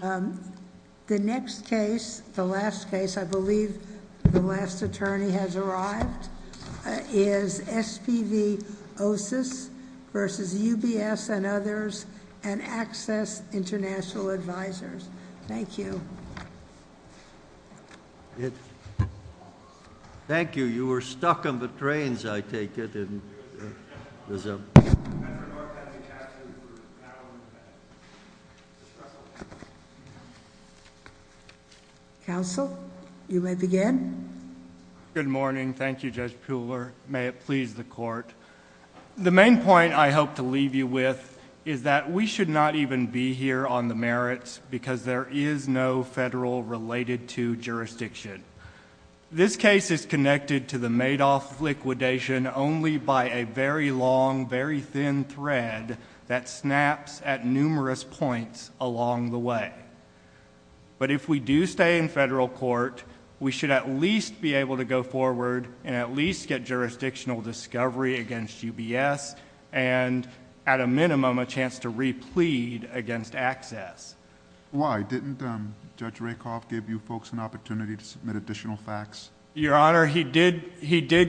The next case, the last case, I believe the last attorney has arrived, is SPV Osus v. UBS and others, and Access International Advisors. Thank you. Thank you. You were stuck on the trains, I take it. Counsel, you may begin. Good morning. Thank you, Judge Puhler. May it please the Court. The main point I hope to leave you with is that we should not even be here on the merits because there is no federal related to jurisdiction. This case is connected to the Madoff liquidation only by a very long, very thin thread that snaps at numerous points along the way. But if we do stay in federal court, we should at least be able to go forward and at least get jurisdictional discovery against UBS and at a minimum a chance to replead against Access. Why? Didn't Judge Rakoff give you folks an opportunity to submit additional facts? Your Honor, he did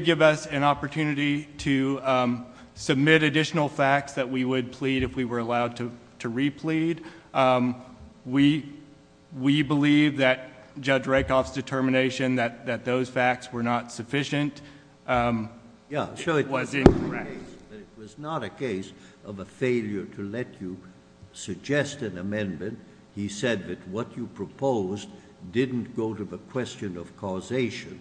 give us an opportunity to submit additional facts that we would plead if we were allowed to replead. We believe that Judge Rakoff's determination that those facts were not sufficient was incorrect. It was not a case of a failure to let you suggest an amendment. He said that what you proposed didn't go to the question of causation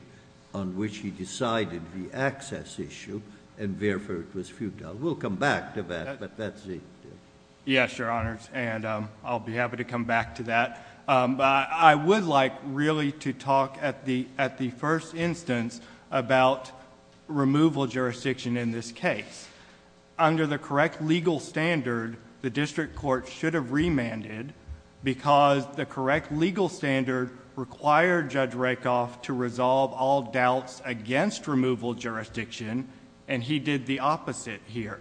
on which he decided the Access issue and therefore it was futile. We'll come back to that, but that's it. Yes, Your Honors, and I'll be happy to come back to that. I would like really to talk at the first instance about removal jurisdiction in this case. Under the correct legal standard, the district court should have remanded because the correct legal standard required Judge Rakoff to resolve all doubts against removal jurisdiction, and he did the opposite here.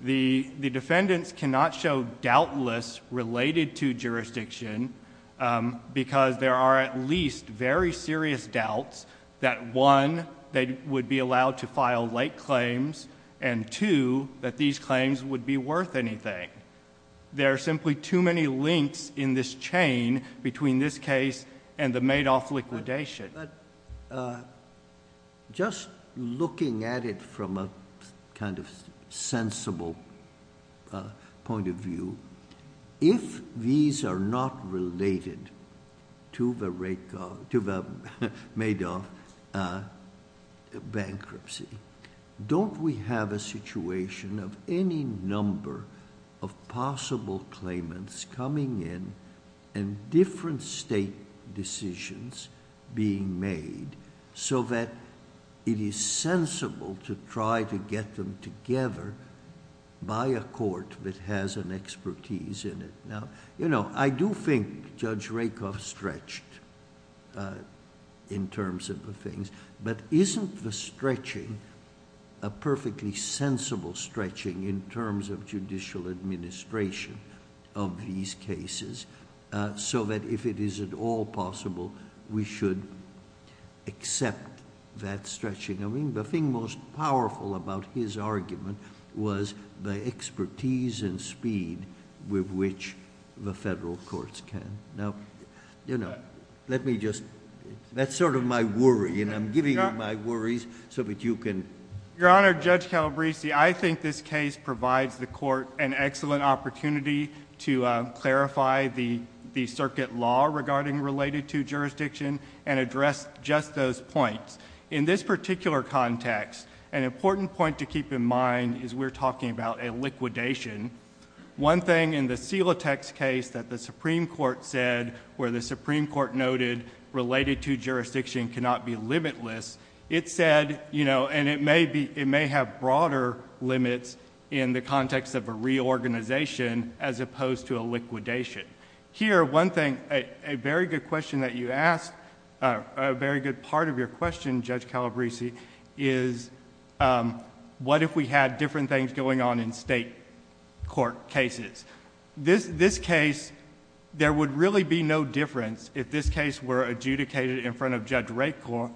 The defendants cannot show doubtless related to jurisdiction because there are at least very serious doubts that one, they would be allowed to file late claims, and two, that these claims would be worth anything. There are simply too many links in this chain between this case and the Madoff liquidation. But just looking at it from a kind of sensible point of view, if these are not related to the Madoff bankruptcy, don't we have a situation of any number of possible claimants coming in and different state decisions being made so that it is sensible to try to get them together by a court that has an expertise in it? I do think Judge Rakoff stretched in terms of the things, but isn't the stretching a perfectly sensible stretching in terms of judicial administration of these cases so that if it is at all possible, we should accept that stretching? I mean, the thing most powerful about his argument was the expertise and speed with which the federal courts can. Now, let me just... that's sort of my worry, and I'm giving you my worries so that you can... Your Honor, Judge Calabresi, I think this case provides the court an excellent opportunity to clarify the circuit law regarding related to jurisdiction and address just those points. In this particular context, an important point to keep in mind is we're talking about a liquidation. One thing in the Silatex case that the Supreme Court said where the Supreme Court noted related to jurisdiction cannot be limitless, it said... And it may have broader limits in the context of a reorganization as opposed to a liquidation. Here, one thing, a very good question that you asked, a very good part of your question, Judge Calabresi, is what if we had different things going on in state court cases? This case, there would really be no difference if this case were adjudicated in front of Judge Rakoff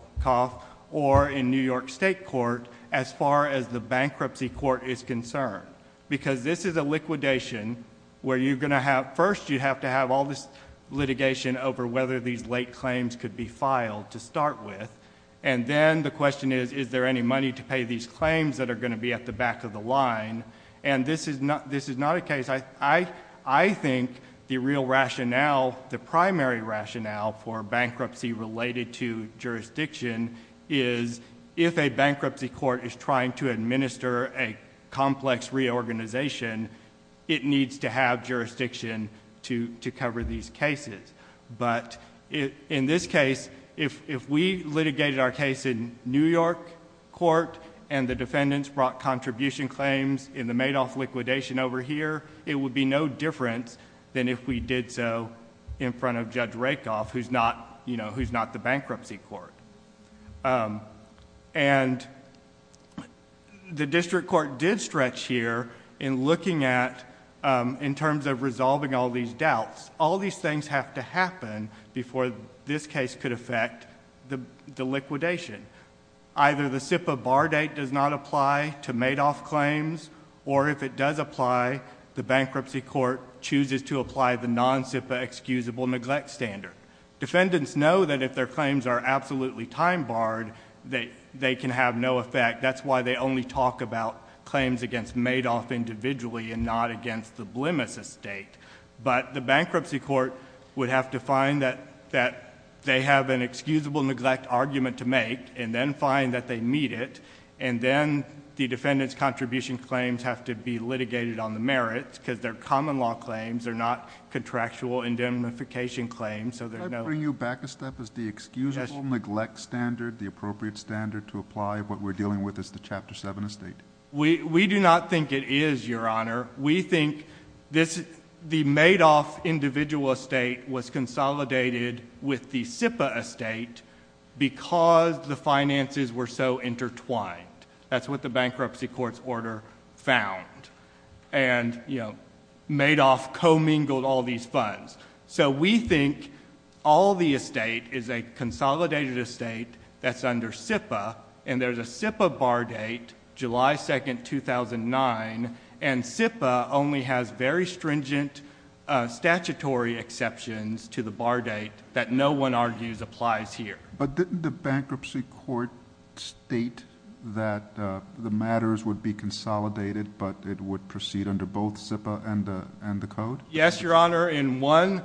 or in New York State Court as far as the bankruptcy court is concerned. Because this is a liquidation where you're going to have... first, you have to have all this litigation over whether these late claims could be filed to start with. And then the question is, is there any money to pay these claims that are going to be at the back of the line? And this is not a case... I think the real rationale, the primary rationale for bankruptcy related to jurisdiction is if a bankruptcy court is trying to administer a complex reorganization, it needs to have jurisdiction to cover these cases. But in this case, if we litigated our case in New York court and the defendants brought contribution claims in the Madoff liquidation over here, it would be no difference than if we did so in front of Judge Rakoff, who's not the bankruptcy court. And the district court did stretch here in looking at... in terms of resolving all these doubts. All these things have to happen before this case could affect the liquidation. Either the SIPA bar date does not apply to Madoff claims, or if it does apply, the bankruptcy court chooses to apply the non-SIPA excusable neglect standard. Defendants know that if their claims are absolutely time barred, they can have no effect. That's why they only talk about claims against Madoff individually and not against the Blemis estate. But the bankruptcy court would have to find that they have an excusable neglect argument to make and then find that they meet it. And then the defendant's contribution claims have to be litigated on the merits, because they're common law claims. They're not contractual indemnification claims, so there's no... Can I bring you back a step as to the excusable neglect standard, the appropriate standard to apply? What we're dealing with is the Chapter 7 estate. We do not think it is, Your Honor. We think the Madoff individual estate was consolidated with the SIPA estate because the finances were so intertwined. That's what the bankruptcy court's order found, and Madoff commingled all these funds. So, we think all the estate is a consolidated estate that's under SIPA, and there's a SIPA bar date, July 2, 2009, and SIPA only has very stringent statutory exceptions to the bar date that no one argues applies here. But didn't the bankruptcy court state that the matters would be consolidated, but it would proceed under both SIPA and the code? Yes, Your Honor. In one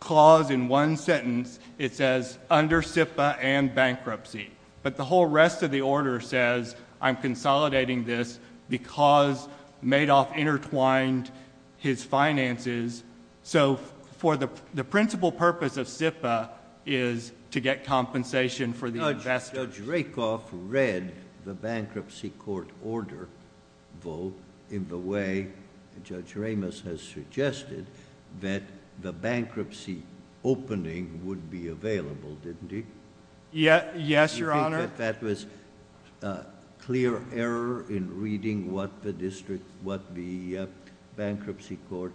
clause, in one sentence, it says, under SIPA and bankruptcy. But the whole rest of the order says, I'm consolidating this because Madoff intertwined his finances. So, the principal purpose of SIPA is to get compensation for the investors. Judge Rakoff read the bankruptcy court order, though, in the way Judge Ramos has suggested, that the bankruptcy opening would be available, didn't he? Yes, Your Honor. Do you think that that was clear error in reading what the bankruptcy court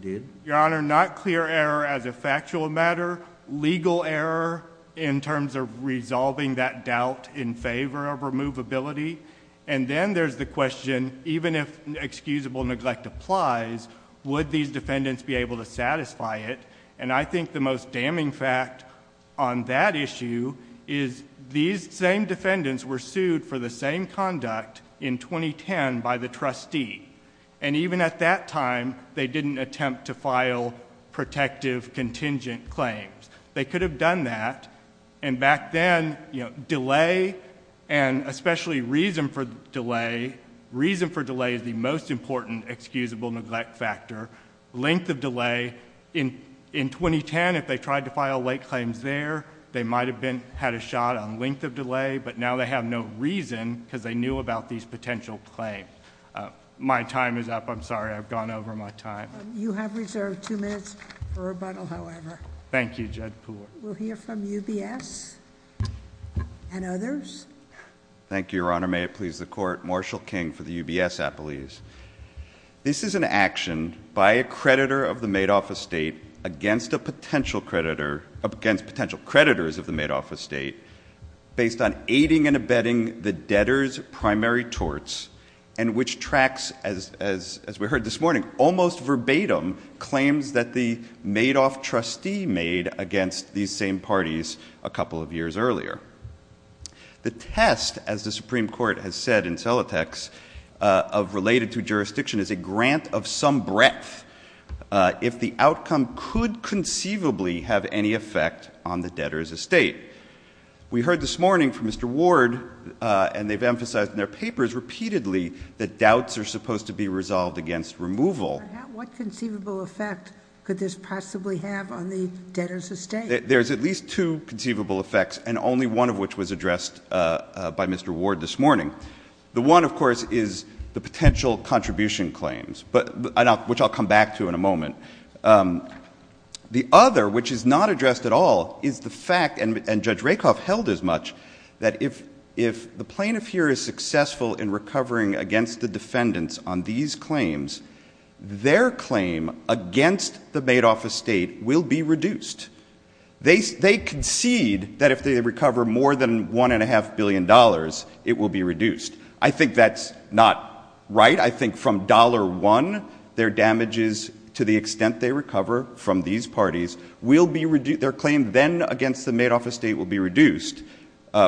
did? Your Honor, not clear error as a factual matter. Legal error in terms of resolving that doubt in favor of removability. And then there's the question, even if excusable neglect applies, would these defendants be able to satisfy it? And I think the most damning fact on that issue is these same defendants were sued for the same conduct in 2010 by the trustee. And even at that time, they didn't attempt to file protective contingent claims. They could have done that. And back then, delay and especially reason for delay, reason for delay is the most important excusable neglect factor, length of delay. In 2010, if they tried to file late claims there, they might have had a shot on length of delay, but now they have no reason because they knew about these potential claims. My time is up. I'm sorry. I've gone over my time. You have reserved two minutes for rebuttal, however. Thank you, Judge Poole. We'll hear from UBS and others. Thank you, Your Honor. May it please the court. Marshall King for the UBS Appellees. This is an action by a creditor of the made-off estate against potential creditors of the made-off estate based on aiding and abetting the debtor's primary torts and which tracks, as we heard this morning, almost verbatim claims that the made-off trustee made against these same parties a couple of years earlier. The test, as the Supreme Court has said in Celotex, of related to jurisdiction is a grant of some breadth if the outcome could conceivably have any effect on the debtor's estate. We heard this morning from Mr. Ward, and they've emphasized in their papers repeatedly, that doubts are supposed to be resolved against removal. What conceivable effect could this possibly have on the debtor's estate? There's at least two conceivable effects, and only one of which was addressed by Mr. Ward this morning. The one, of course, is the potential contribution claims, which I'll come back to in a moment. The other, which is not addressed at all, is the fact, and Judge Rakoff held as much, that if the plaintiff here is successful in recovering against the defendants on these claims, their claim against the made-off estate will be reduced. They concede that if they recover more than $1.5 billion, it will be reduced. I think that's not right. I think from $1, their damages to the extent they recover from these parties will be reduced. Their claim then against the made-off estate will be reduced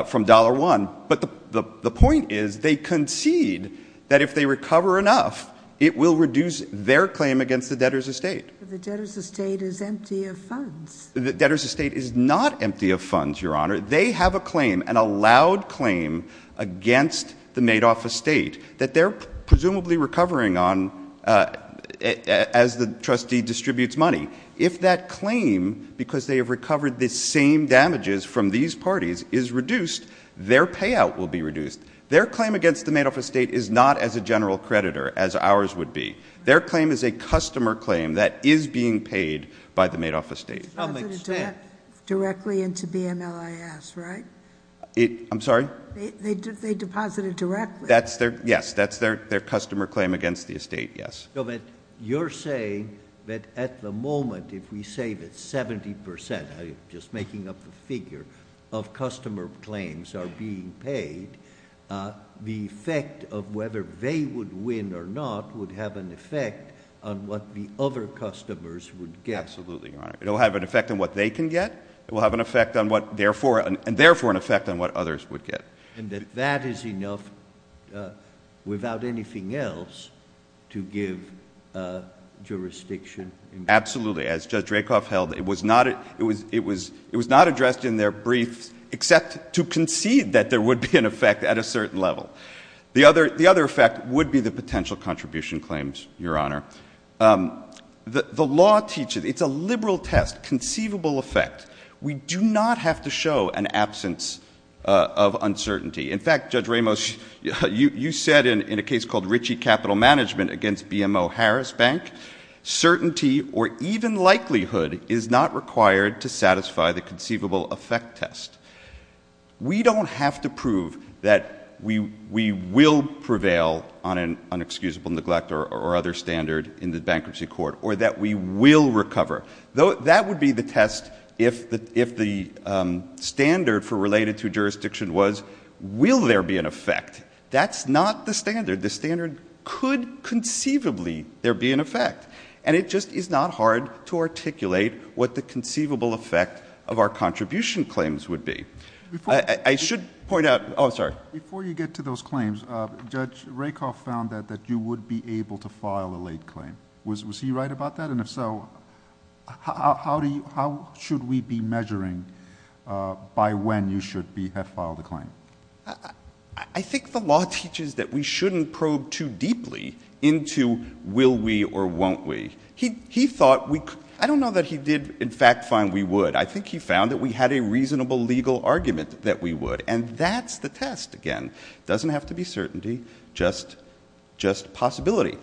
from $1. But the point is, they concede that if they recover enough, it will reduce their claim against the debtor's estate. The debtor's estate is empty of funds. The debtor's estate is not empty of funds, Your Honor. They have a claim, an allowed claim, against the made-off estate that they're presumably recovering on as the trustee distributes money. If that claim, because they have recovered the same damages from these parties, is reduced, their payout will be reduced. Their claim against the made-off estate is not as a general creditor as ours would be. Their claim is a customer claim that is being paid by the made-off estate. It's deposited directly into BMLIS, right? I'm sorry? They deposit it directly. Yes, that's their customer claim against the estate, yes. No, but you're saying that at the moment, if we say that 70 percent, just making up the figure, of customer claims are being paid, the effect of whether they would win or not would have an effect on what the other customers would get. Absolutely, Your Honor. It will have an effect on what they can get. It will have an effect on what – and therefore an effect on what others would get. And that that is enough without anything else to give jurisdiction? Absolutely. As Judge Rakoff held, it was not addressed in their briefs except to concede that there would be an effect at a certain level. The other effect would be the potential contribution claims, Your Honor. The law teaches – it's a liberal test, conceivable effect. We do not have to show an absence of uncertainty. In fact, Judge Ramos, you said in a case called Ritchie Capital Management against BMO Harris Bank, certainty or even likelihood is not required to satisfy the conceivable effect test. We don't have to prove that we will prevail on an inexcusable neglect or other standard in the bankruptcy court or that we will recover. That would be the test if the standard for related to jurisdiction was will there be an effect. That's not the standard. The standard could conceivably there be an effect. And it just is not hard to articulate what the conceivable effect of our contribution claims would be. I should point out – oh, sorry. Before you get to those claims, Judge Rakoff found that you would be able to file a late claim. Was he right about that? And if so, how should we be measuring by when you should have filed a claim? I think the law teaches that we shouldn't probe too deeply into will we or won't we. He thought we – I don't know that he did, in fact, find we would. I think he found that we had a reasonable legal argument that we would. And that's the test, again. It doesn't have to be certainty, just possibility.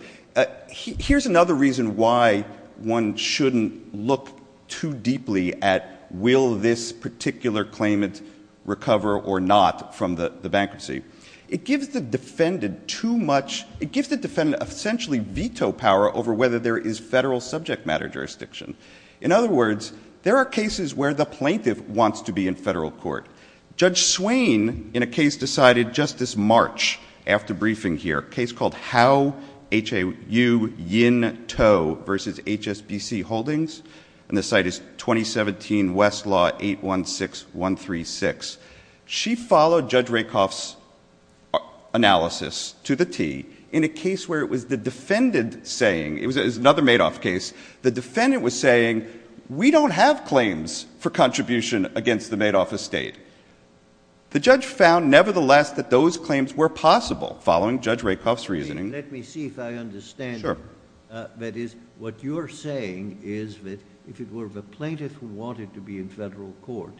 Here's another reason why one shouldn't look too deeply at will this particular claimant recover or not from the bankruptcy. It gives the defendant too much – it gives the defendant essentially veto power over whether there is federal subject matter jurisdiction. In other words, there are cases where the plaintiff wants to be in federal court. Judge Swain, in a case decided just this March after briefing here, a case called Howe, H.A.U. Yintow v. H.S.B.C. Holdings. And the site is 2017 Westlaw 816136. She followed Judge Rakoff's analysis to the T in a case where it was the defendant saying – it was another Madoff case. The defendant was saying, we don't have claims for contribution against the Madoff estate. The judge found, nevertheless, that those claims were possible following Judge Rakoff's reasoning. Let me see if I understand. Sure. That is, what you're saying is that if it were the plaintiff who wanted to be in federal court,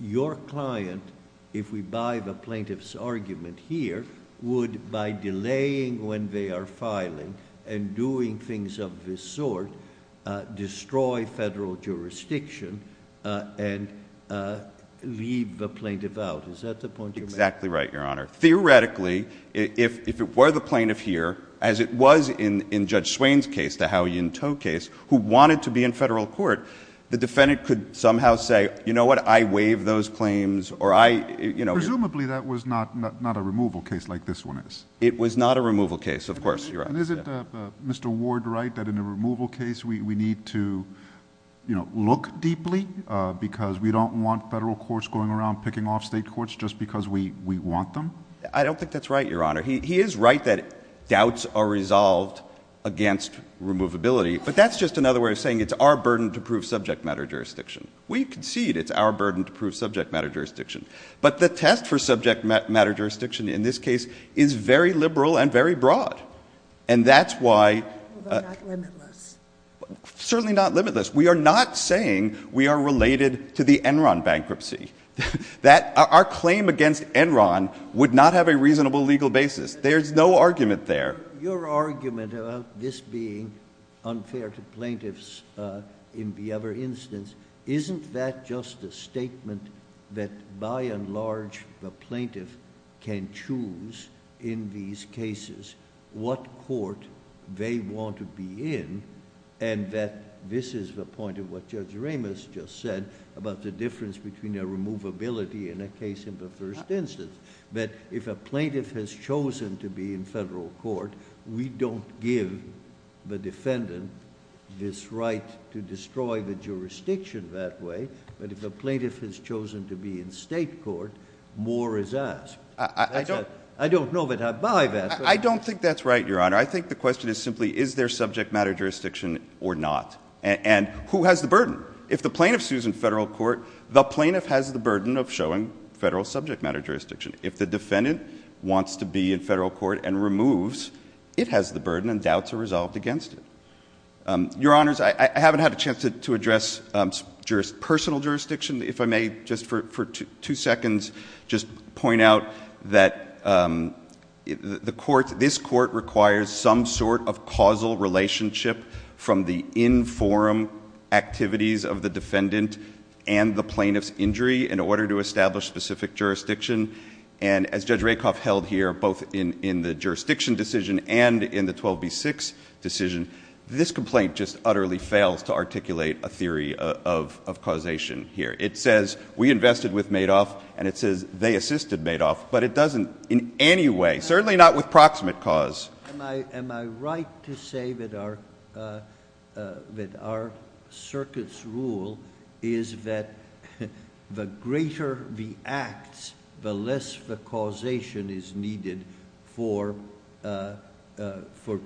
your client, if we buy the plaintiff's argument here, would, by delaying when they are filing and doing things of this sort, destroy federal jurisdiction and leave the plaintiff out. Is that the point you're making? Exactly right, Your Honor. Theoretically, if it were the plaintiff here, as it was in Judge Swain's case, the Howe, Yintow case, who wanted to be in federal court, the defendant could somehow say, you know what, I waive those claims or I – Presumably that was not a removal case like this one is. It was not a removal case, of course, Your Honor. And isn't Mr. Ward right that in a removal case we need to look deeply because we don't want federal courts going around picking off state courts just because we want them? I don't think that's right, Your Honor. He is right that doubts are resolved against removability. But that's just another way of saying it's our burden to prove subject matter jurisdiction. We concede it's our burden to prove subject matter jurisdiction. But the test for subject matter jurisdiction in this case is very liberal and very broad. And that's why – But not limitless. Certainly not limitless. We are not saying we are related to the Enron bankruptcy, that our claim against Enron would not have a reasonable legal basis. There's no argument there. Your argument about this being unfair to plaintiffs in the other instance, isn't that just a statement that by and large the plaintiff can choose in these cases what court they want to be in? And that this is the point of what Judge Ramos just said about the difference between a removability in a case in the first instance. That if a plaintiff has chosen to be in federal court, we don't give the defendant this right to destroy the jurisdiction that way. But if a plaintiff has chosen to be in state court, more is asked. I don't know that I buy that. I don't think that's right, Your Honor. I think the question is simply is there subject matter jurisdiction or not. And who has the burden? If the plaintiff sues in federal court, the plaintiff has the burden of showing federal subject matter jurisdiction. If the defendant wants to be in federal court and removes, it has the burden and doubts are resolved against it. Your Honors, I haven't had a chance to address personal jurisdiction. If I may, just for two seconds, just point out that this court requires some sort of causal relationship from the in forum activities of the defendant and the plaintiff's injury in order to establish specific jurisdiction. And as Judge Rakoff held here, both in the jurisdiction decision and in the 12B6 decision, this complaint just utterly fails to articulate a theory of causation here. It says we invested with Madoff, and it says they assisted Madoff, but it doesn't in any way, certainly not with proximate cause. Am I right to say that our circuit's rule is that the greater the acts, the less the causation is needed for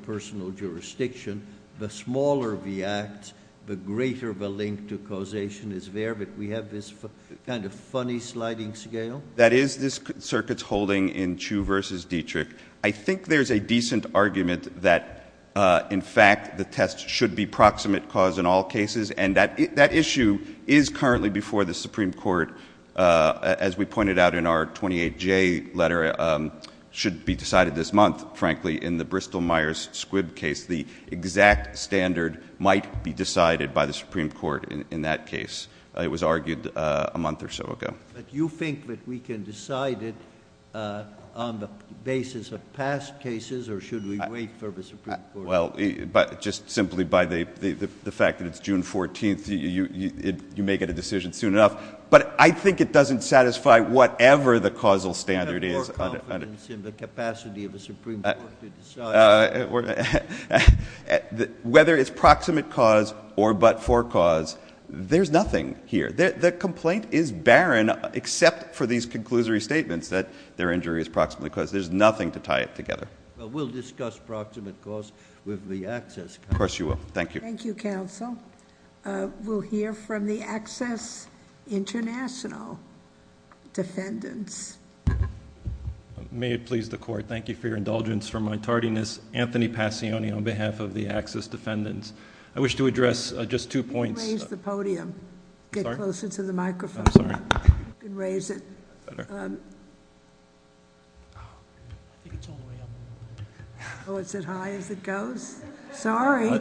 personal jurisdiction? The smaller the acts, the greater the link to causation is there, but we have this kind of funny sliding scale? That is this circuit's holding in Chu versus Dietrich. I think there's a decent argument that, in fact, the test should be proximate cause in all cases, and that issue is currently before the Supreme Court. As we pointed out in our 28J letter, should be decided this month, frankly, in the Bristol-Myers-Squibb case. The exact standard might be decided by the Supreme Court in that case. It was argued a month or so ago. But you think that we can decide it on the basis of past cases, or should we wait for the Supreme Court? Well, just simply by the fact that it's June 14th, you may get a decision soon enough. But I think it doesn't satisfy whatever the causal standard is. We have more confidence in the capacity of the Supreme Court to decide. Whether it's proximate cause or but-for cause, there's nothing here. The complaint is barren, except for these conclusory statements that their injury is proximate cause. There's nothing to tie it together. Well, we'll discuss proximate cause with the access counsel. Of course you will. Thank you. Thank you, counsel. We'll hear from the Access International defendants. May it please the court, thank you for your indulgence, for my tardiness. Anthony Passione on behalf of the Access defendants. I wish to address just two points. You can raise the podium. Sorry? Get closer to the microphone. I'm sorry. You can raise it. I think it's all the way up. Oh, it's as high as it goes? Sorry.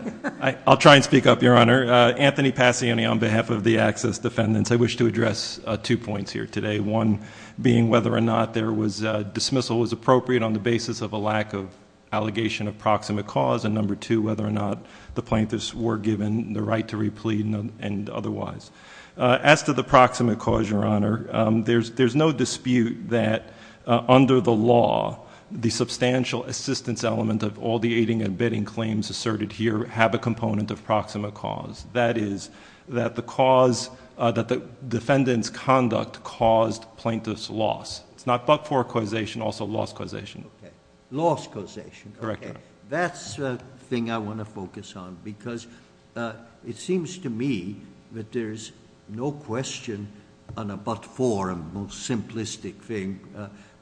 I'll try and speak up, Your Honor. Anthony Passione on behalf of the Access defendants. I wish to address two points here today. One being whether or not there was dismissal was appropriate on the basis of a lack of allegation of proximate cause. And number two, whether or not the plaintiffs were given the right to replead and otherwise. As to the proximate cause, Your Honor, there's no dispute that under the law, the substantial assistance element of all the aiding and abetting claims asserted here have a component of proximate cause. That is, that the defendant's conduct caused plaintiff's loss. It's not but-for causation, also loss causation. Okay. Loss causation. Correct, Your Honor. That's the thing I want to focus on because it seems to me that there's no question on a but-for, a more simplistic thing,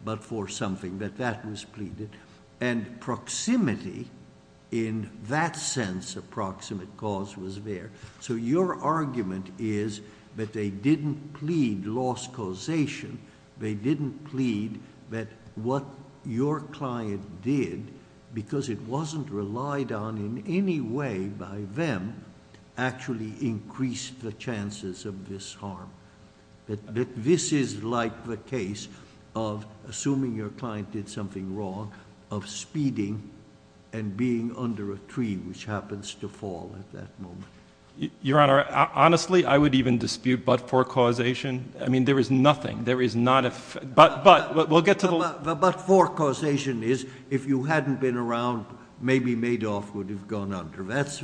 but-for something, that that was pleaded. And proximity in that sense of proximate cause was there. So your argument is that they didn't plead loss causation. They didn't plead that what your client did, because it wasn't relied on in any way by them, actually increased the chances of this harm. That this is like the case of, assuming your client did something wrong, of speeding and being under a tree, which happens to fall at that moment. Your Honor, honestly, I would even dispute but-for causation. I mean, there is nothing. There is not a, but we'll get to the. But-for causation is, if you hadn't been around, maybe Madoff would have gone under. That's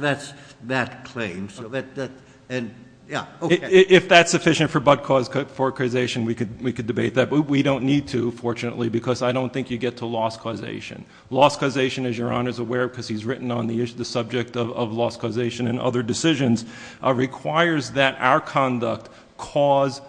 that claim. So that, yeah. If that's sufficient for but-for causation, we could debate that. But we don't need to, fortunately, because I don't think you get to loss causation. Loss causation, as Your Honor is aware, because he's written on the subject of loss causation and other decisions, requires that our conduct cause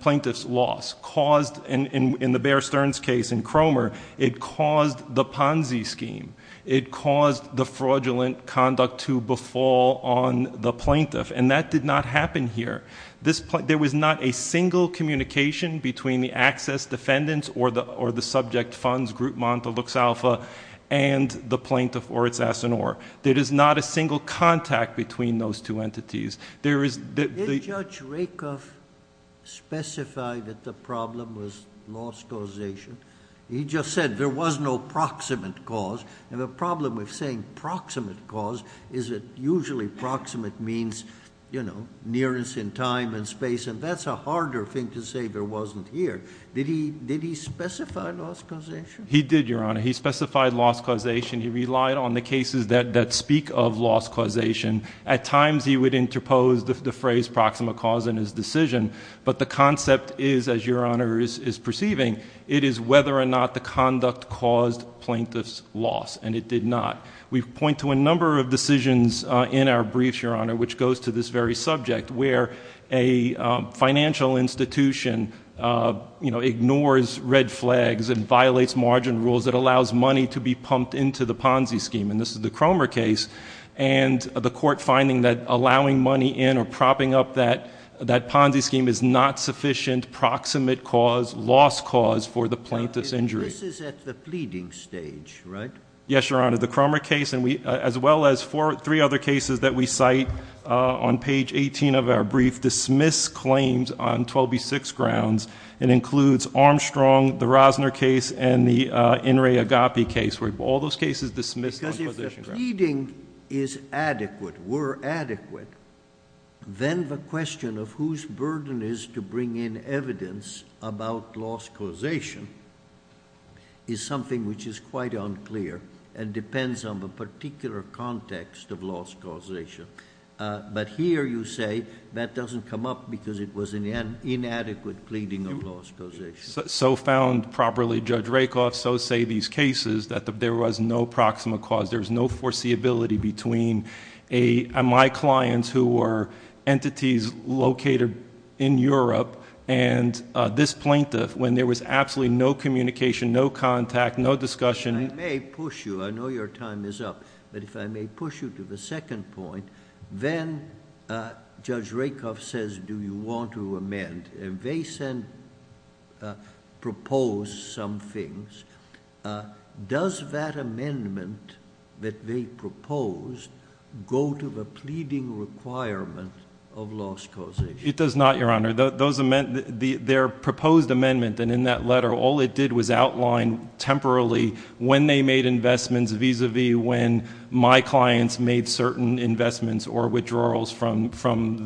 plaintiff's loss. Caused, in the Bear Stearns case in Cromer, it caused the Ponzi scheme. It caused the fraudulent conduct to befall on the plaintiff. And that did not happen here. There was not a single communication between the access defendants or the subject funds, Group Monta Lux Alpha, and the plaintiff or its asinore. There is not a single contact between those two entities. There is- Did Judge Rakoff specify that the problem was loss causation? He just said there was no proximate cause. And the problem with saying proximate cause is that usually proximate means, you know, nearness in time and space. And that's a harder thing to say there wasn't here. Did he specify loss causation? He did, Your Honor. He specified loss causation. He relied on the cases that speak of loss causation. At times he would interpose the phrase proximate cause in his decision. But the concept is, as Your Honor is perceiving, it is whether or not the conduct caused plaintiff's loss. And it did not. We point to a number of decisions in our briefs, Your Honor, which goes to this very subject, where a financial institution, you know, ignores red flags and violates margin rules that allows money to be pumped into the Ponzi scheme. And this is the Cromer case. And the court finding that allowing money in or propping up that Ponzi scheme is not sufficient proximate cause, loss cause for the plaintiff's injury. This is at the fleeting stage, right? Yes, Your Honor. The Cromer case, as well as three other cases that we cite on page 18 of our brief, dismiss claims on 12B6 grounds. It includes Armstrong, the Rosner case, and the In re Agapi case. All those cases dismissed on 12B6 grounds. Because if the pleading is adequate, were adequate, then the question of whose burden it is to bring in evidence about loss causation is something which is quite unclear and depends on the particular context of loss causation. But here you say that doesn't come up because it was an inadequate pleading of loss causation. So found properly, Judge Rakoff, so say these cases that there was no proximate cause. There was no foreseeability between my clients who were entities located in Europe and this plaintiff when there was absolutely no communication, no contact, no discussion. I may push you. I know your time is up. But if I may push you to the second point, then Judge Rakoff says, do you want to amend? And they propose some things. Does that amendment that they propose go to the pleading requirement of loss causation? It does not, Your Honor. Their proposed amendment, and in that letter, all it did was outline temporarily when they made investments vis-a-vis when my clients made certain investments or withdrawals from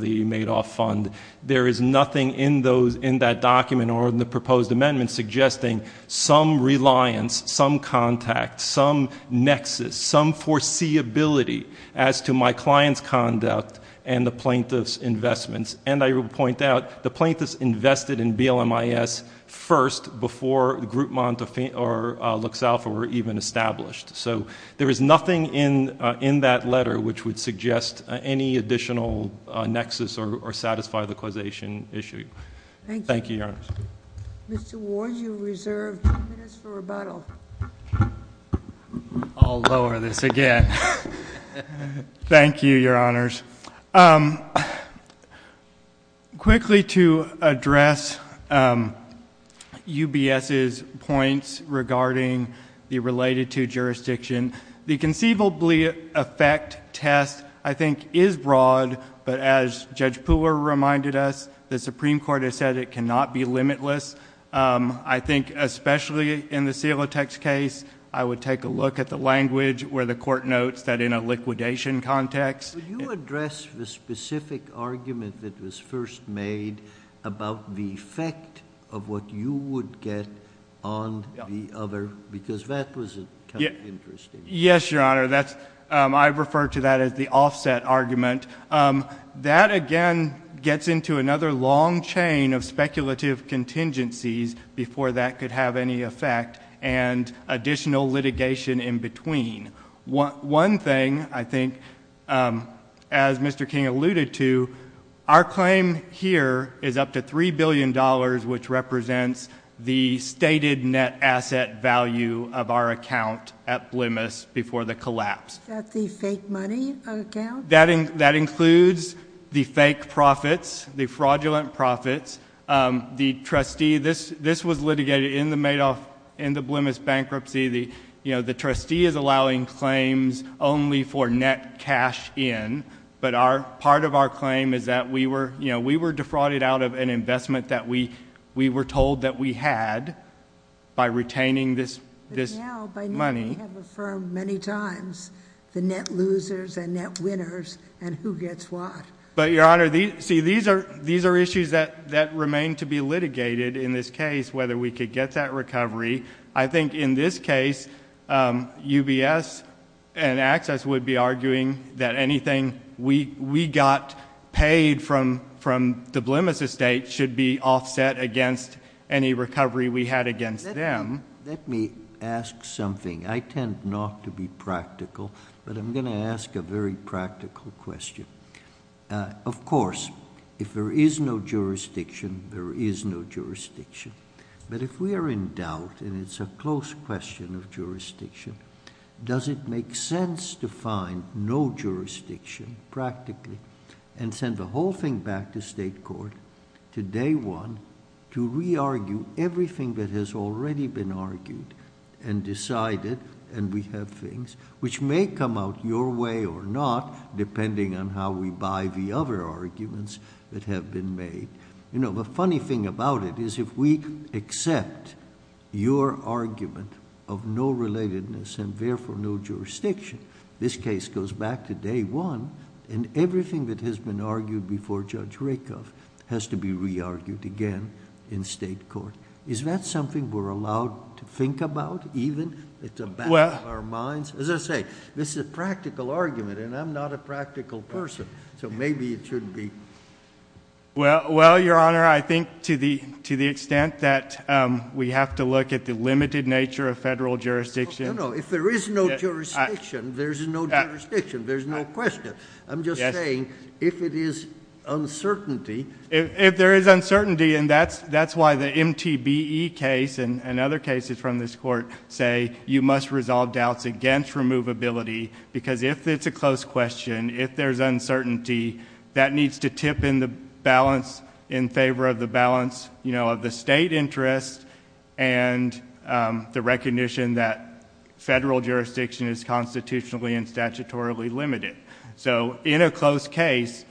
the Madoff Fund. There is nothing in that document or in the proposed amendment suggesting some reliance, some contact, some nexus, some foreseeability as to my client's conduct and the plaintiff's investments. And I will point out, the plaintiffs invested in BLMIS first before Groupmont or Luxalfa were even established. So there is nothing in that letter which would suggest any additional nexus or satisfy the causation issue. Thank you, Your Honor. Mr. Ward, you are reserved two minutes for rebuttal. I'll lower this again. Thank you, Your Honors. Quickly, to address UBS's points regarding the related to jurisdiction, the conceivably effect test, I think, is broad, but as Judge Pooler reminded us, the Supreme Court has said it cannot be limitless. I think especially in the Silotek's case, I would take a look at the language where the court notes that in a liquidation context... Could you address the specific argument that was first made about the effect of what you would get on the other? Because that was interesting. Yes, Your Honor. I refer to that as the offset argument. That, again, gets into another long chain of speculative contingencies before that could have any effect and additional litigation in between. One thing, I think, as Mr. King alluded to, our claim here is up to $3 billion, which represents the stated net asset value of our account at Blemis before the collapse. Is that the fake money account? That includes the fake profits, the fraudulent profits. The trustee... this was litigated in the Blemis bankruptcy. The trustee is allowing claims only for net cash in, but part of our claim is that we were defrauded out of an investment that we were told that we had by retaining this money. But now they have affirmed many times the net losers and net winners and who gets what. But, Your Honor, these are issues that remain to be litigated in this case, whether we could get that recovery. I think in this case, UBS and Access would be arguing that anything we got paid from the Blemis estate should be offset against any recovery we had against them. Let me ask something. I tend not to be practical, but I'm going to ask a very practical question. Of course, if there is no jurisdiction, there is no jurisdiction. But if we are in doubt, and it's a close question of jurisdiction, does it make sense to find no jurisdiction, practically, and send the whole thing back to state court, to day one, to re-argue everything that has already been argued and decided, and we have things which may come out your way or not, depending on how we buy the other arguments that have been made. The funny thing about it is if we accept your argument of no relatedness and therefore no jurisdiction, this case goes back to day one, and everything that has been argued before Judge Rakoff has to be re-argued again in state court. Is that something we're allowed to think about, even? It's a battle of our minds? As I say, this is a practical argument, and I'm not a practical person, so maybe it shouldn't be... Well, Your Honor, I think to the extent that we have to look at the limited nature of federal jurisdiction... No, no. If there is no jurisdiction, there's no jurisdiction. There's no question. I'm just saying if it is uncertainty... If there is uncertainty, and that's why the MTBE case and other cases from this court say you must resolve doubts against removability, because if it's a close question, if there's uncertainty, that needs to tip in the balance in favor of the balance of the state interest and the recognition that federal jurisdiction is constitutionally and statutorily limited. In a close case,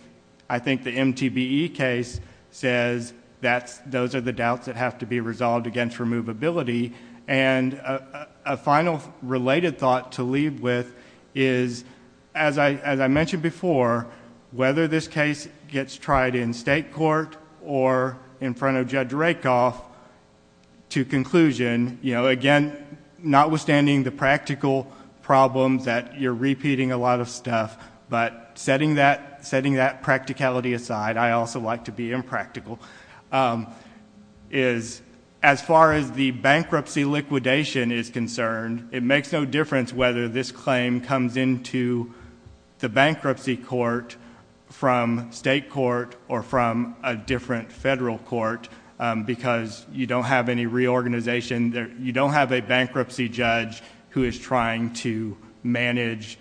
I think the MTBE case says those are the doubts that have to be resolved against removability. And, a final related thought to leave with is, as I mentioned before, whether this case gets tried in state court or in front of Judge Rakoff, to conclusion, you know, again, notwithstanding the practical problems that you're repeating a lot of stuff, but setting that practicality aside, I also like to be impractical, is as far as the bankruptcy liquidation is concerned, it makes no difference whether this claim comes into the bankruptcy court from state court or from a different federal court, because you don't have any reorganization. You don't have a bankruptcy judge who is trying to manage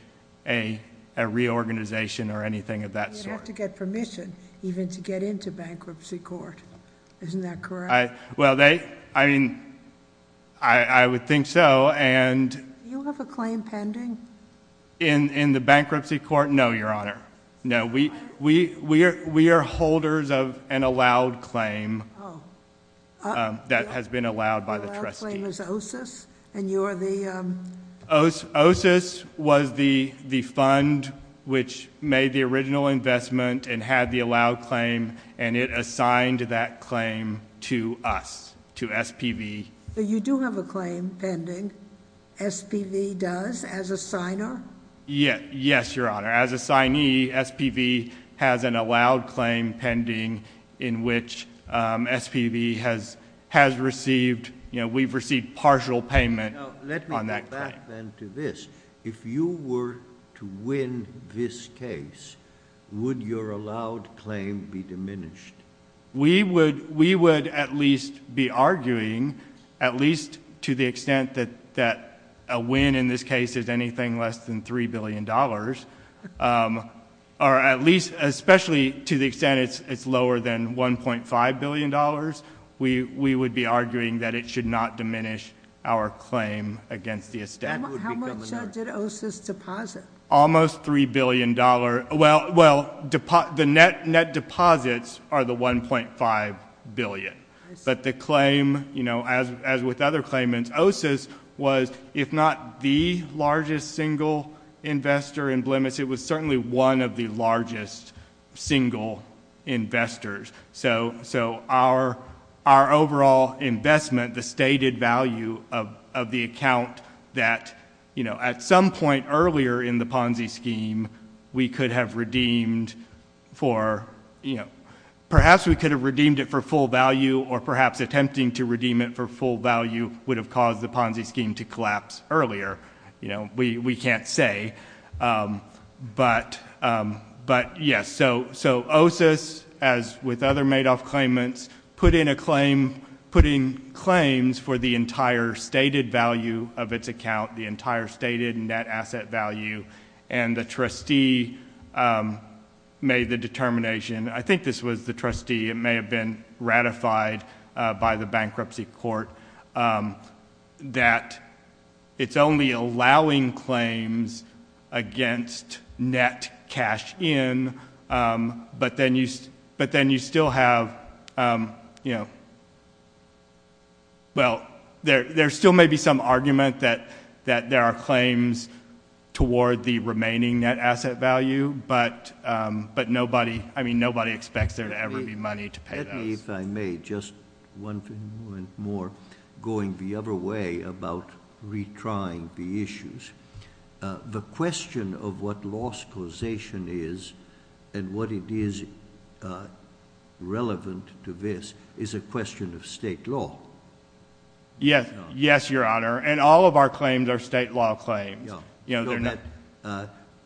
a reorganization or anything of that sort. You'd have to get permission even to get into bankruptcy court. Isn't that correct? Well, they, I mean, I would think so. Do you have a claim pending? In the bankruptcy court, no, Your Honor. No, we are holders of an allowed claim that has been allowed by the trustees. The allowed claim is OSIS, and you are the... and had the allowed claim, and it assigned that claim to us, to SPV. You do have a claim pending. SPV does, as a signer? Yes, Your Honor. As a signee, SPV has an allowed claim pending in which SPV has received, you know, we've received partial payment on that claim. Now, let me go back then to this. If you were to win this case, would your allowed claim be diminished? We would at least be arguing, at least to the extent that a win in this case is anything less than $3 billion, or at least, especially to the extent it's lower than $1.5 billion, we would be arguing that it should not diminish our claim against the estate. How much did OSIS deposit? Almost $3 billion. Well, the net deposits are the $1.5 billion. But the claim, you know, as with other claimants, OSIS was, if not the largest single investor in Blemis, it was certainly one of the largest single investors. So our overall investment, the stated value of the account that, you know, at some point earlier in the Ponzi scheme, we could have redeemed for, you know, perhaps we could have redeemed it for full value, or perhaps attempting to redeem it for full value would have caused the Ponzi scheme to collapse earlier. You know, we can't say. But, yes, so OSIS, as with other Madoff claimants, put in claims for the entire stated value of its account, the entire stated net asset value, and the trustee made the determination, I think this was the trustee, it may have been ratified by the bankruptcy court, that it's only allowing claims against net cash in, but then you still have, you know, well, there still may be some argument that there are claims toward the remaining net asset value, but nobody, I mean, nobody expects there to ever be money to pay those. If I may, just one more going the other way about retrying the issues. The question of what loss causation is and what it is relevant to this is a question of state law. Yes. Yes, Your Honor. And all of our claims are state law claims.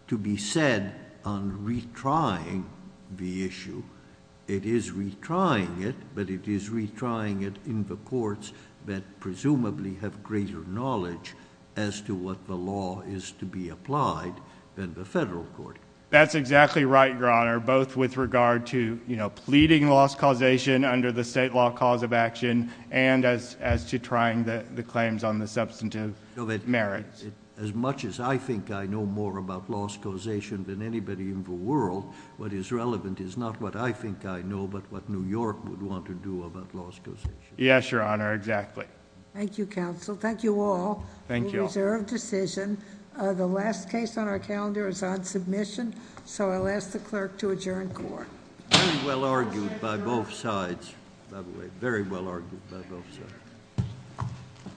To be said on retrying the issue, it is retrying it, but it is retrying it in the courts that presumably have greater knowledge as to what the law is to be applied than the federal court. That's exactly right, Your Honor, both with regard to, you know, pleading loss causation under the state law cause of action and as to trying the claims on the substantive merits. As much as I think I know more about loss causation than anybody in the world, what is relevant is not what I think I know, but what New York would want to do about loss causation. Yes, Your Honor, exactly. Thank you, counsel. Thank you all. Thank you. A reserved decision. The last case on our calendar is on submission, so I'll ask the clerk to adjourn court. Very well argued by both sides, by the way. Very well argued by both sides.